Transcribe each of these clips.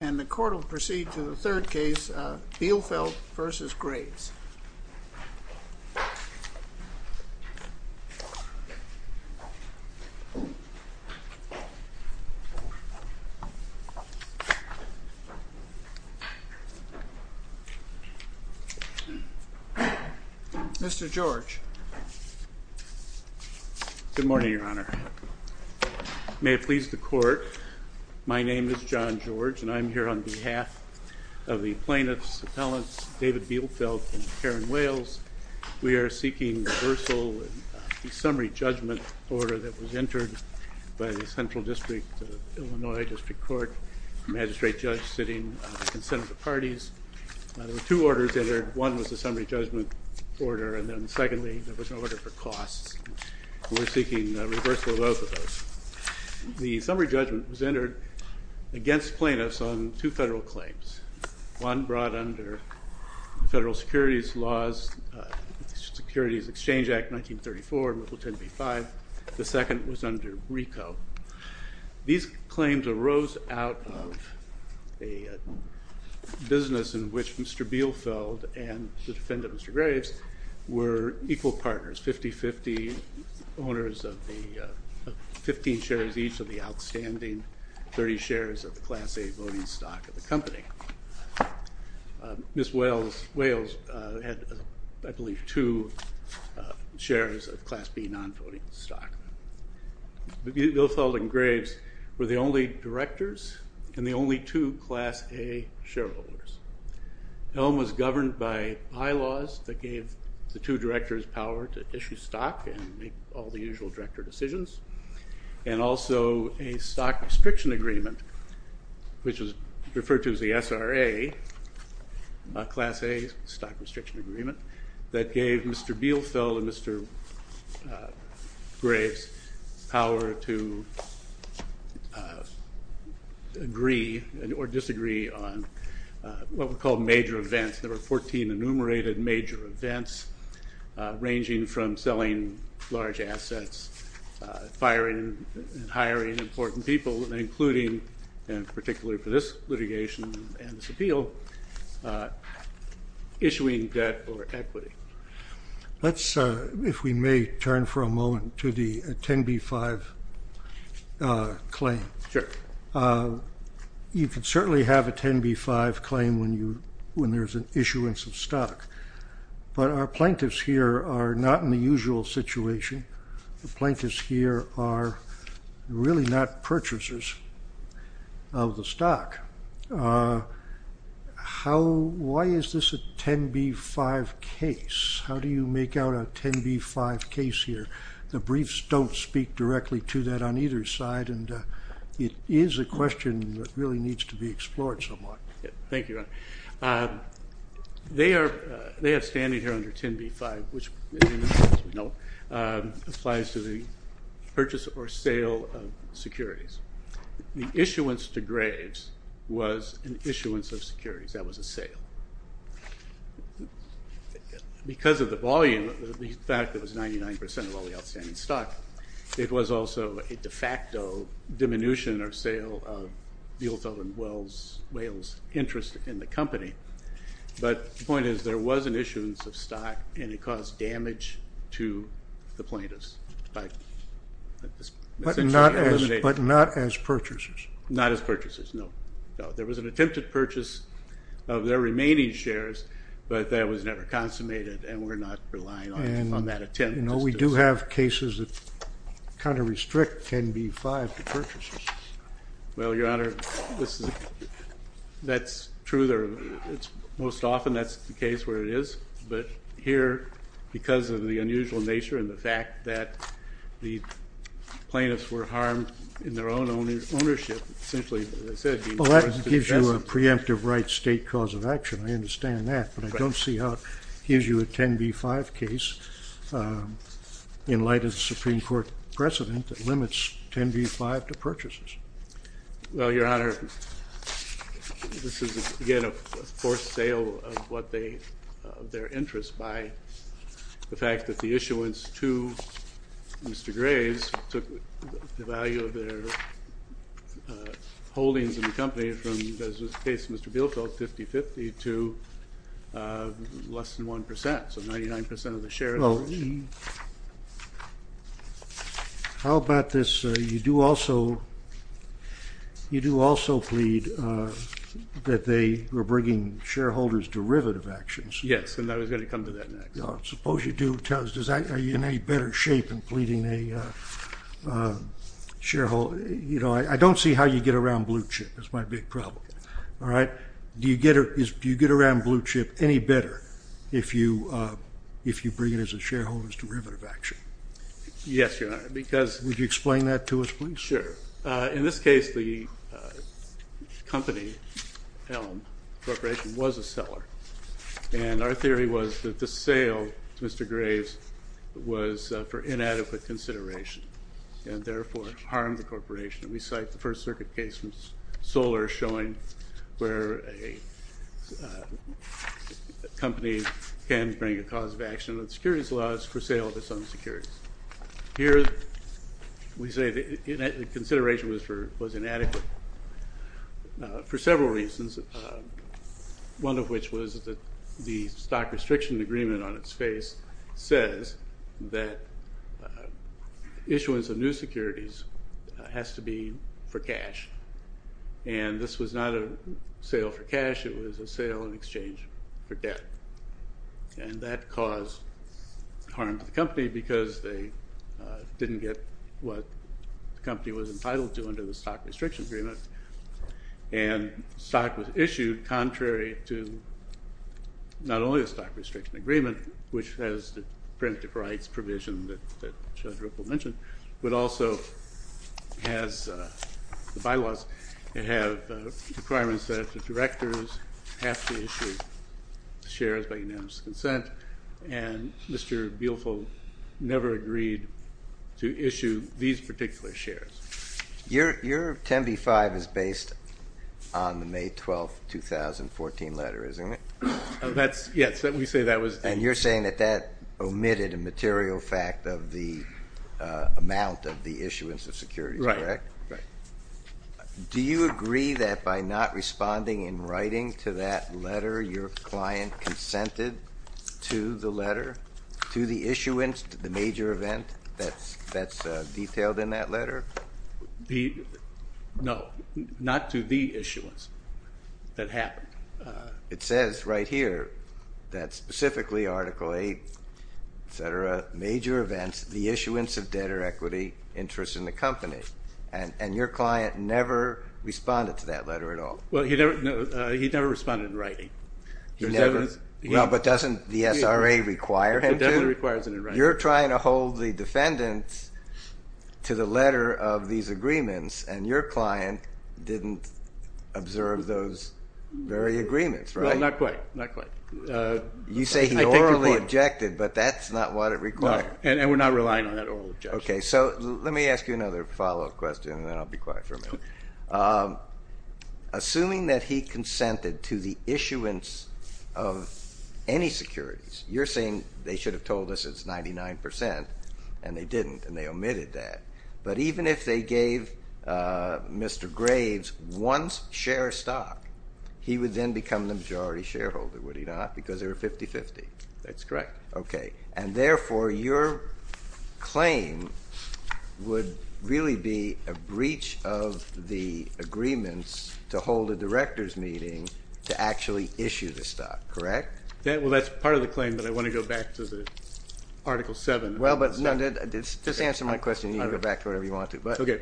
And the court will proceed to the third case, Bielfeldt v. Graves. Mr. George. Good morning, Your Honor. May it please the court, my name is John George, and I'm here on behalf of the plaintiffs, appellants, David Bielfeldt and Karen Wales. We are seeking reversal of the summary judgment order that was entered by the Central District of Illinois District Court magistrate judge sitting on the consent of the parties. There were two orders entered. One was the summary judgment order, and then secondly, there was an order for costs. We're seeking reversal of both of those. The summary judgment was entered against plaintiffs on two federal claims. One brought under the Federal Securities Laws, Securities Exchange Act 1934, Mipple 10b-5. The second was under RICO. These claims arose out of a business in which Mr. Bielfeldt and the defendant, Mr. Graves, were equal partners. 50-50 owners of the 15 shares each of the outstanding 30 shares of the Class A voting stock of the company. Ms. Wales had, I believe, two shares of Class B non-voting stock. Mr. Bielfeldt and Graves were the only directors and the only two Class A shareholders. The home was governed by bylaws that gave the two directors power to issue stock and make all the usual director decisions, and also a stock restriction agreement, which was referred to as the SRA, Class A stock restriction agreement, that gave Mr. Bielfeldt and Mr. Graves power to agree or disagree on what were called major events. There were 14 enumerated major events, ranging from selling large assets, firing and hiring important people, including, and particularly for this litigation and this appeal, issuing debt or equity. Let's, if we may, turn for a moment to the 10b-5 claim. Sure. You can certainly have a 10b-5 claim when you, when there's an issuance of stock, but our plaintiffs here are not in the usual situation. The plaintiffs here are really not purchasers of the stock. How, why is this a 10b-5 case? How do you make out a 10b-5 case here? The briefs don't speak directly to that on either side, and it is a question that really needs to be explored somewhat. Thank you, Ron. They are standing here under 10b-5, which, as we know, applies to the purchase or sale of securities. The issuance to Graves was an issuance of securities. That was a sale. Because of the volume, the fact that it was 99 percent of all the outstanding stock, it was also a de facto diminution or sale of Buettel and Wales' interest in the company. But the point is there was an issuance of stock, and it caused damage to the plaintiffs. But not as purchasers. Not as purchasers, no. There was an attempted purchase of their remaining shares, but that was never consummated, and we're not relying on that attempt. We do have cases that kind of restrict 10b-5 to purchases. Well, Your Honor, that's true. Most often that's the case where it is. But here, because of the unusual nature and the fact that the plaintiffs were harmed in their own ownership, Well, that gives you a preemptive right state cause of action. I understand that, but I don't see how it gives you a 10b-5 case in light of the Supreme Court precedent that limits 10b-5 to purchases. Well, Your Honor, this is, again, a forced sale of their interest by the fact that the issuance to Mr. Graves took the value of their holdings in the company from, as was the case of Mr. Bielfeld, 50-50, to less than 1%, so 99% of the shares. Well, how about this? You do also plead that they were bringing shareholders derivative actions. Yes, and I was going to come to that next. Suppose you do. Are you in any better shape in pleading a shareholder? You know, I don't see how you get around blue chip. That's my big problem. Do you get around blue chip any better if you bring it as a shareholder's derivative action? Yes, Your Honor, because Would you explain that to us, please? Sure. In this case, the company, Elm Corporation, was a seller. And our theory was that the sale, Mr. Graves, was for inadequate consideration and, therefore, harmed the corporation. We cite the First Circuit case from Solar showing where a company can bring a cause of action under the securities laws for sale of its own securities. Here we say the consideration was inadequate for several reasons, one of which was that the stock restriction agreement on its face says that issuance of new securities has to be for cash. And this was not a sale for cash. It was a sale in exchange for debt. And that caused harm to the company because they didn't get what the company was entitled to under the stock restriction agreement. And stock was issued contrary to not only the stock restriction agreement, which has the prerogative rights provision that Judge Ripple mentioned, but also has the bylaws that have requirements that the directors have to issue shares by unanimous consent. And Mr. Buehlfeld never agreed to issue these particular shares. Your 10B-5 is based on the May 12, 2014 letter, isn't it? Yes, we say that was. And you're saying that that omitted a material fact of the amount of the issuance of securities, correct? Right, right. Do you agree that by not responding in writing to that letter, your client consented to the letter, to the issuance, to the major event that's detailed in that letter? No, not to the issuance that happened. It says right here that specifically Article 8, et cetera, major events, the issuance of debt or equity interest in the company. And your client never responded to that letter at all? Well, he never responded in writing. Well, but doesn't the SRA require him to? It definitely requires it in writing. You're trying to hold the defendants to the letter of these agreements, and your client didn't observe those very agreements, right? Well, not quite, not quite. You say he orally objected, but that's not what it requires. No, and we're not relying on that oral objection. Okay, so let me ask you another follow-up question, and then I'll be quiet for a minute. Assuming that he consented to the issuance of any securities, you're saying they should have told us it's 99 percent, and they didn't, and they omitted that. But even if they gave Mr. Graves one share of stock, he would then become the majority shareholder, would he not, because they were 50-50? That's correct. Okay, and therefore, your claim would really be a breach of the agreements to hold a director's meeting to actually issue the stock, correct? Well, that's part of the claim, but I want to go back to the Article 7. Well, but no, just answer my question, and you can go back to whatever you want to. Okay.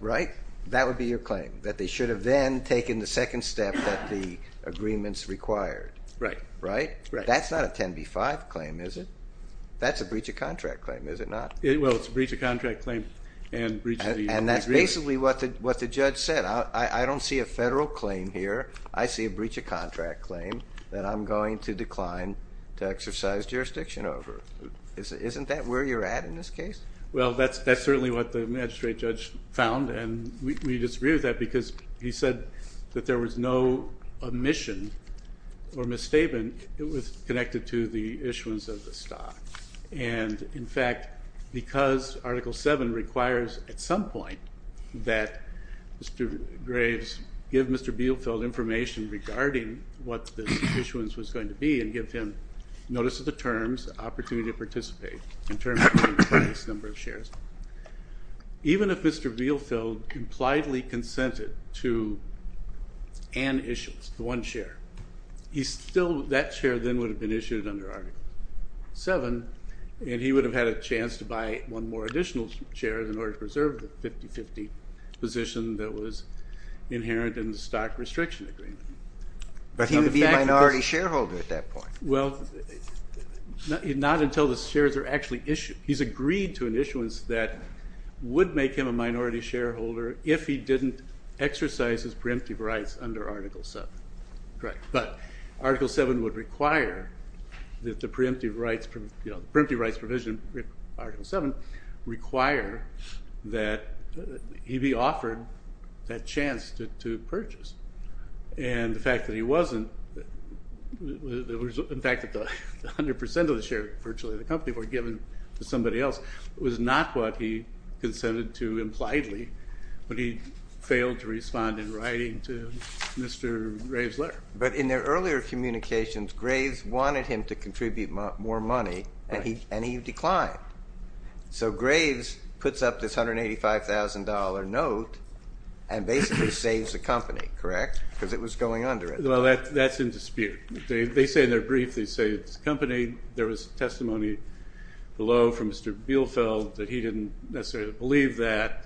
Right? That would be your claim, that they should have then taken the second step that the agreements required. Right. Right? That's not a 10B-5 claim, is it? That's a breach of contract claim, is it not? Well, it's a breach of contract claim and breach of the agreements. And that's basically what the judge said. I don't see a federal claim here. I see a breach of contract claim that I'm going to decline to exercise jurisdiction over. Isn't that where you're at in this case? Well, that's certainly what the magistrate judge found, and we disagree with that because he said that there was no omission or misstatement. It was connected to the issuance of the stock. And, in fact, because Article 7 requires at some point that Mr. Graves give Mr. Bielfeld information regarding what the issuance was going to be and give him notice of the terms, opportunity to participate in terms of the implied number of shares. That share then would have been issued under Article 7, and he would have had a chance to buy one more additional share in order to preserve the 50-50 position that was inherent in the stock restriction agreement. But he would be a minority shareholder at that point. Well, not until the shares are actually issued. He's agreed to an issuance that would make him a minority shareholder if he didn't exercise his preemptive rights under Article 7. But Article 7 would require that the preemptive rights provision, Article 7, require that he be offered that chance to purchase. And the fact that he wasn't, in fact, that 100% of the share virtually of the company were given to somebody else was not what he consented to impliedly when he failed to respond in writing to Mr. Graves' letter. But in their earlier communications, Graves wanted him to contribute more money, and he declined. So Graves puts up this $185,000 note and basically saves the company, correct? Because it was going under at the time. Well, that's in dispute. They say in their brief they saved the company. There was testimony below from Mr. Bielfeld that he didn't necessarily believe that.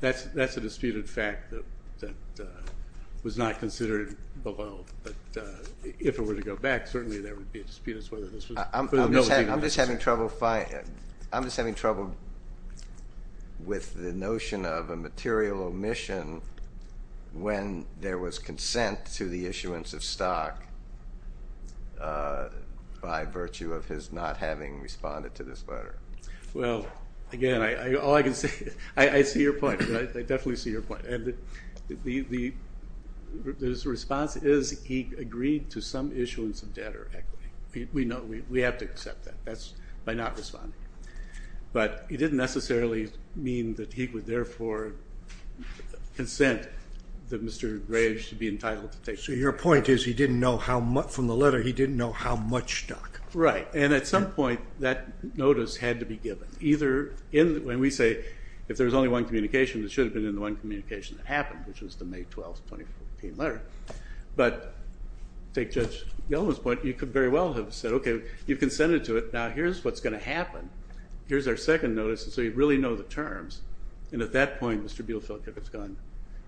That's a disputed fact that was not considered below. But if it were to go back, certainly there would be a dispute as to whether this was – I'm just having trouble with the notion of a material omission when there was consent to the issuance of stock by virtue of his not having responded to this letter. Well, again, all I can say – I see your point. I definitely see your point. And the response is he agreed to some issuance of debt or equity. We know. We have to accept that. That's by not responding. But it didn't necessarily mean that he would therefore consent that Mr. Graves should be entitled to take stock. So your point is he didn't know how – from the letter, he didn't know how much stock. Right. And at some point, that notice had to be given. When we say if there was only one communication, it should have been in the one communication that happened, which was the May 12, 2014 letter. But take Judge Yellen's point. You could very well have said, okay, you consented to it. Now, here's what's going to happen. Here's our second notice. And so you really know the terms. And at that point, Mr. Bielefeldt would have gone,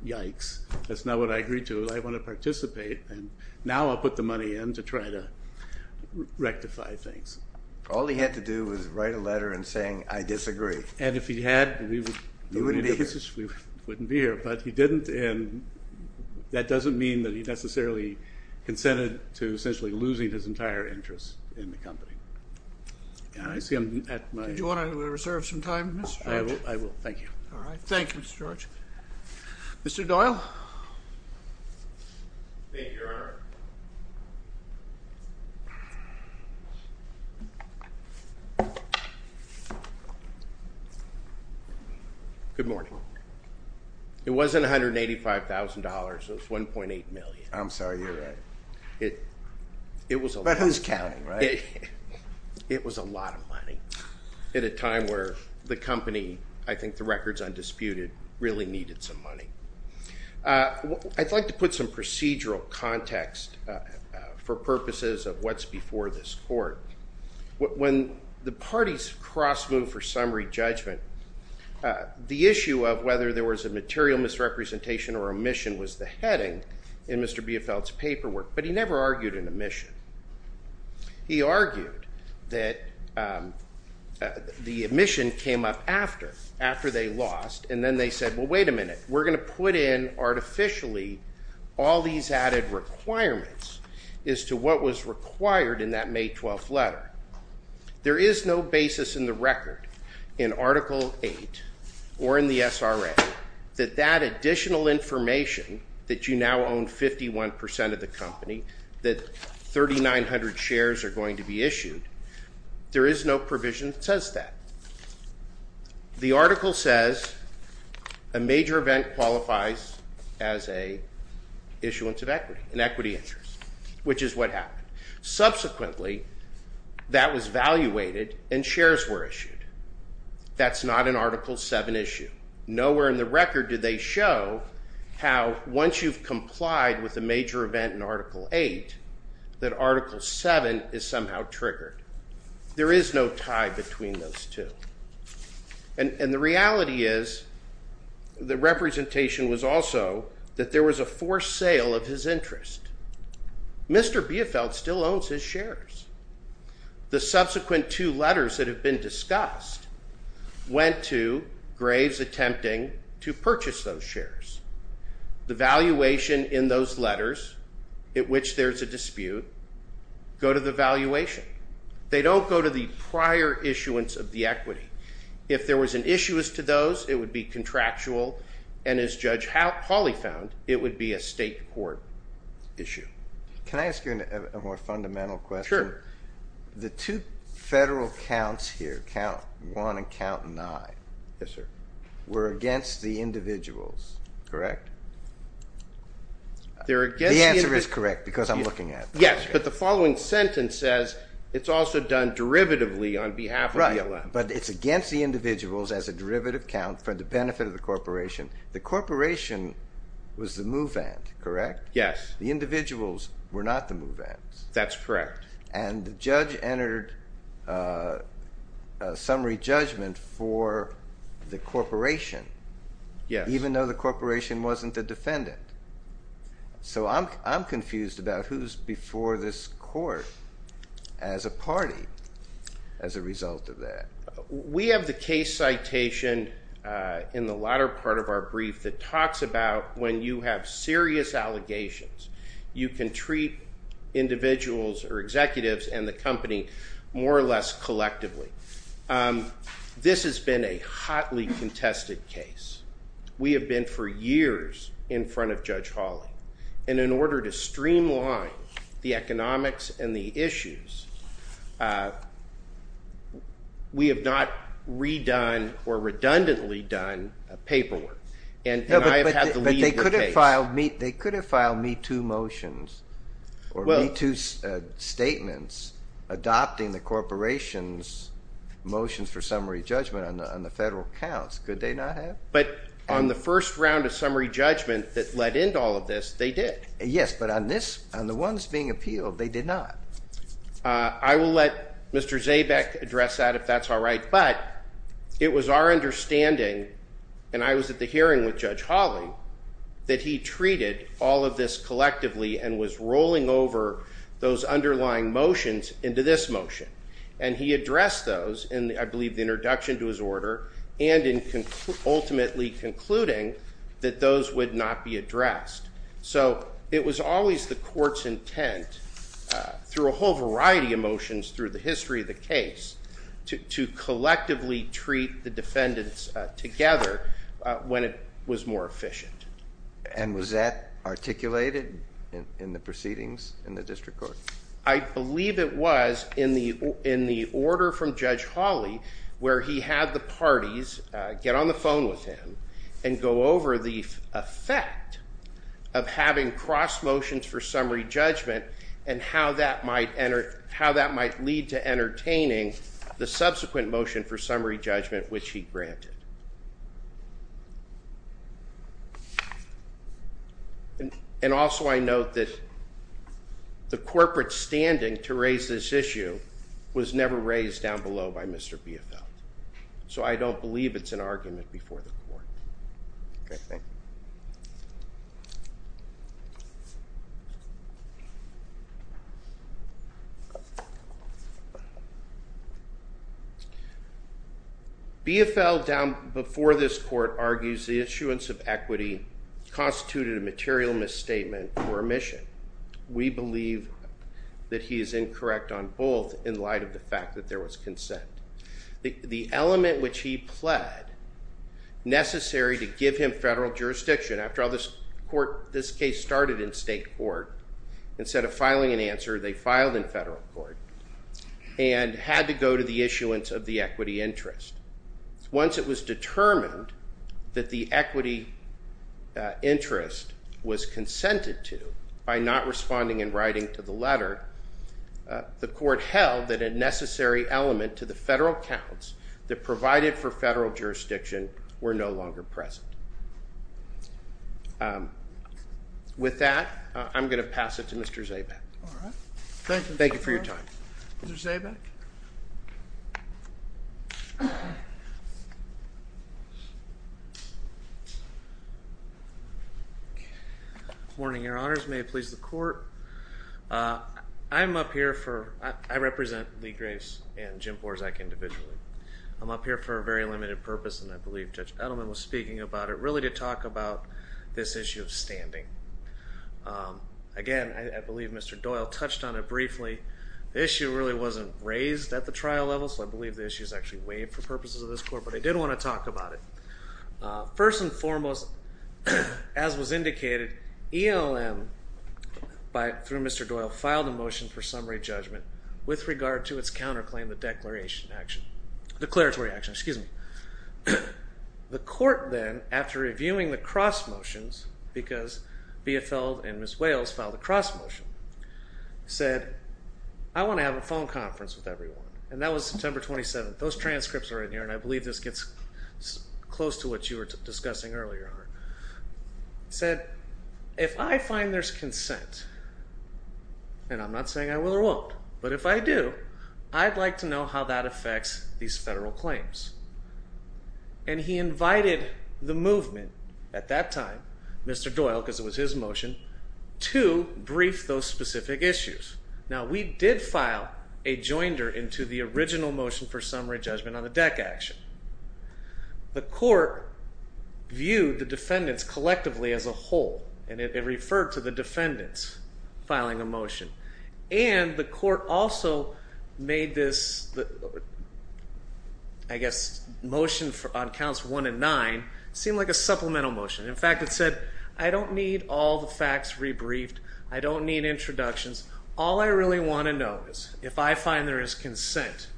yikes, that's not what I agreed to. I want to participate. And now I'll put the money in to try to rectify things. All he had to do was write a letter and saying, I disagree. And if he had, we wouldn't be here. But he didn't. And that doesn't mean that he necessarily consented to essentially losing his entire interest in the company. I see I'm at my – Do you want to reserve some time, Mr. George? I will. Thank you. All right. Thank you, Mr. George. Mr. Doyle. Thank you, Your Honor. Good morning. It wasn't $185,000. It was $1.8 million. I'm sorry. You're right. But who's counting, right? It was a lot of money at a time where the company, I think the record's undisputed, really needed some money. I'd like to put some procedural context for purposes of what's before this court. When the parties cross-moved for summary judgment, the issue of whether there was a material misrepresentation or omission was the heading in Mr. Biefeldt's paperwork, but he never argued an omission. He argued that the omission came up after, after they lost, and then they said, well, wait a minute. We're going to put in artificially all these added requirements as to what was required in that May 12th letter. There is no basis in the record in Article 8 or in the SRA that that additional information that you now own 51 percent of the company, that 3,900 shares are going to be issued, there is no provision that says that. The article says a major event qualifies as an issuance of equity, an equity interest, which is what happened. Subsequently, that was valuated and shares were issued. That's not an Article 7 issue. Nowhere in the record did they show how once you've complied with a major event in Article 8 that Article 7 is somehow triggered. There is no tie between those two. And the reality is the representation was also that there was a forced sale of his interest. Mr. Biefeldt still owns his shares. The subsequent two letters that have been discussed went to Graves attempting to purchase those shares. The valuation in those letters, at which there's a dispute, go to the valuation. They don't go to the prior issuance of the equity. If there was an issuance to those, it would be contractual, and as Judge Hawley found, it would be a state court issue. Can I ask you a more fundamental question? Sure. The two federal counts here, count 1 and count 9, were against the individuals, correct? The answer is correct because I'm looking at it. Yes, but the following sentence says it's also done derivatively on behalf of the club. Right, but it's against the individuals as a derivative count for the benefit of the corporation. The corporation was the move-in, correct? Yes. The individuals were not the move-ins. That's correct. And the judge entered a summary judgment for the corporation. Yes. Even though the corporation wasn't the defendant. So I'm confused about who's before this court as a party as a result of that. We have the case citation in the latter part of our brief that talks about when you have serious allegations, you can treat individuals or executives and the company more or less collectively. This has been a hotly contested case. We have been for years in front of Judge Hawley. And in order to streamline the economics and the issues, we have not redone or redundantly done paperwork. But they could have filed me two motions or me two statements adopting the corporation's motions for summary judgment on the federal counts. Could they not have? But on the first round of summary judgment that led into all of this, they did. Yes, but on the ones being appealed, they did not. I will let Mr. Zabeck address that if that's all right. But it was our understanding, and I was at the hearing with Judge Hawley, that he treated all of this collectively and was rolling over those underlying motions into this motion. And he addressed those in, I believe, the introduction to his order and in ultimately concluding that those would not be addressed. So it was always the court's intent, through a whole variety of motions through the history of the case, to collectively treat the defendants together when it was more efficient. And was that articulated in the proceedings in the district court? I believe it was in the order from Judge Hawley, where he had the parties get on the phone with him and go over the effect of having cross motions for summary judgment and how that might lead to entertaining the subsequent motion for summary judgment, which he granted. And also, I note that the corporate standing to raise this issue was never raised down below by Mr. Biefeld. So I don't believe it's an argument before the court. OK, thank you. Biefeld, before this court, argues the issuance of equity constituted a material misstatement or omission. We believe that he is incorrect on both in light of the fact that there was consent. The element which he pled necessary to give him federal jurisdiction. After all, this case started in state court. Instead of filing an answer, they filed in federal court and had to go to the issuance of the equity interest. Once it was determined that the equity interest was consented to by not responding in writing to the letter, the court held that a necessary element to the federal counts that provided for federal jurisdiction were no longer present. With that, I'm going to pass it to Mr. Zaback. Thank you for your time. Mr. Zaback? Good morning, Your Honors. May it please the court. I'm up here for, I represent Lee Grace and Jim Borzak individually. I'm up here for a very limited purpose, and I believe Judge Edelman was speaking about it, really to talk about this issue of standing. Again, I believe Mr. Doyle touched on it briefly. The issue really wasn't raised at the trial level, so I believe the issue is actually waived for purposes of this court, but I did want to talk about it. First and foremost, as was indicated, ELM, through Mr. Doyle, filed a motion for summary judgment with regard to its counterclaim, the declaratory action. The court then, after reviewing the cross motions, because Biefeld and Ms. Wales filed a cross motion, said, I want to have a phone conference with everyone. And that was September 27th. Those transcripts are in here, and I believe this gets close to what you were discussing earlier. Said, if I find there's consent, and I'm not saying I will or won't, but if I do, I'd like to know how that affects these federal claims. And he invited the movement, at that time, Mr. Doyle, because it was his motion, to brief those specific issues. Now, we did file a joinder into the original motion for summary judgment on the DEC action. The court viewed the defendants collectively as a whole, and it referred to the defendants filing a motion. And the court also made this, I guess, motion on counts one and nine, seem like a supplemental motion. In fact, it said, I don't need all the facts rebriefed. I don't need introductions. All I really want to know is, if I find there is consent,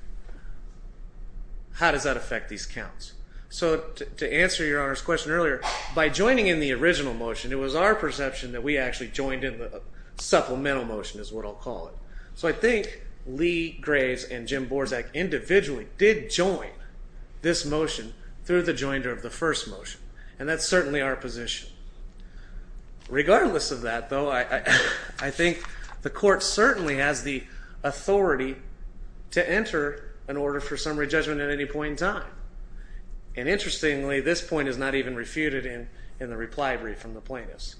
how does that affect these counts? So, to answer Your Honor's question earlier, by joining in the original motion, it was our perception that we actually joined in the supplemental motion, is what I'll call it. So I think Lee Graves and Jim Borzak individually did join this motion through the joinder of the first motion. And that's certainly our position. Regardless of that, though, I think the court certainly has the authority to enter an order for summary judgment at any point in time. And interestingly, this point is not even refuted in the reply brief from the plaintiffs.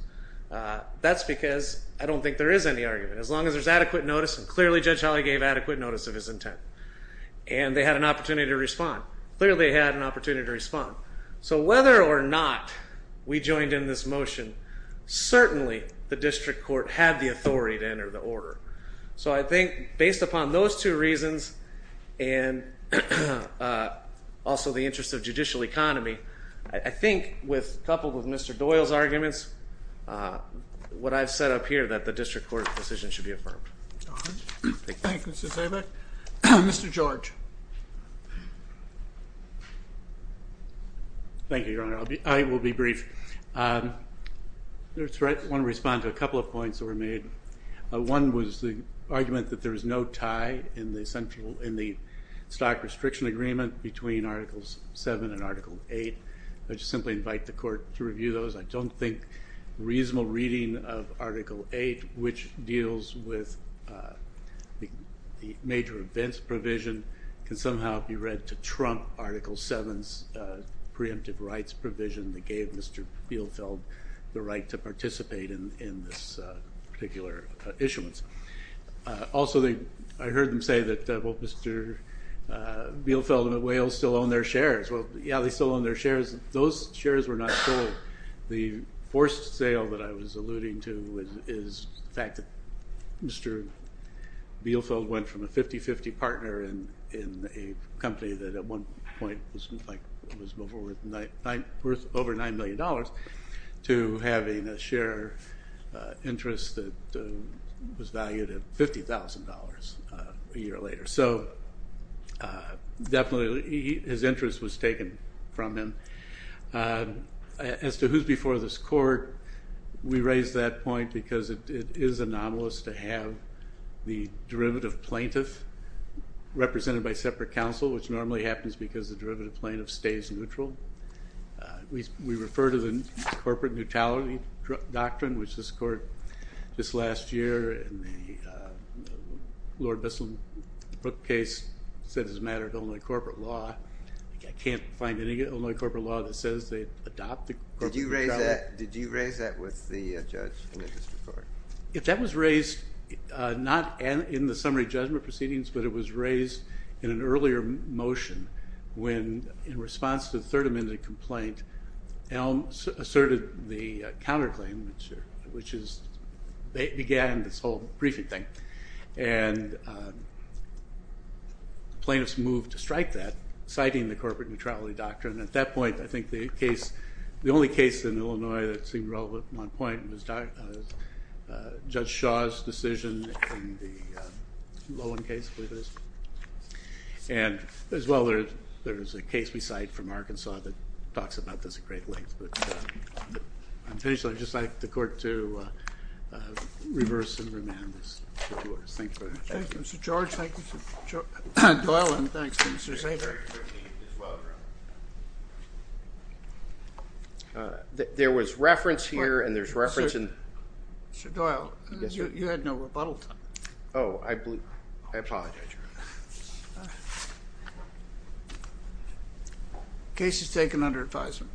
That's because I don't think there is any argument. As long as there's adequate notice, and clearly Judge Holly gave adequate notice of his intent. And they had an opportunity to respond. Clearly they had an opportunity to respond. So whether or not we joined in this motion, certainly the district court had the authority to enter the order. So I think, based upon those two reasons, and also the interest of judicial economy, I think, coupled with Mr. Doyle's arguments, what I've said up here, that the district court decision should be affirmed. Thank you, Mr. Zabek. Mr. George. Thank you, Your Honor. I will be brief. I want to respond to a couple of points that were made. One was the argument that there is no tie in the stock restriction agreement between Articles 7 and Article 8. I just simply invite the court to review those. I don't think reasonable reading of Article 8, which deals with the major events provision, can somehow be read to trump Article 7's preemptive rights provision that gave Mr. Bielfeld the right to participate in this particular issuance. Also, I heard them say that Mr. Bielfeld and the Whales still own their shares. Well, yeah, they still own their shares. Those shares were not sold. The forced sale that I was alluding to is the fact that Mr. Bielfeld went from a 50-50 partner in a company that at one point was worth over $9 million to having a share interest that was valued at $50,000 a year later. So definitely his interest was taken from him. As to who's before this court, we raise that point because it is anomalous to have the derivative plaintiff represented by separate counsel, which normally happens because the derivative plaintiff stays neutral. We refer to the corporate neutrality doctrine, which this court, this last year, in the Lord Bissell case, said it's a matter of Illinois corporate law. I can't find any Illinois corporate law that says they adopt the corporate neutrality. Did you raise that with the judge in the district court? That was raised not in the summary judgment proceedings, but it was raised in an earlier motion when, in response to the Third Amendment complaint, Elm asserted the counterclaim, which began this whole briefing thing, and plaintiffs moved to strike that, citing the corporate neutrality doctrine. At that point, I think the only case in Illinois that seemed relevant at one point was Judge Shaw's decision in the Loewen case, I believe it is. And as well, there is a case we cite from Arkansas that talks about this at great length. But I'm finished, so I'd just like the court to reverse and remand this. Thank you very much. Thank you, Mr. George. Thank you, Mr. Doyle. And thanks, Mr. Saber. Thank you, Mr. Saber. Thank you, Mr. Saber. There was reference here, and there's reference in— Oh, I apologize. Case is taken under advisement.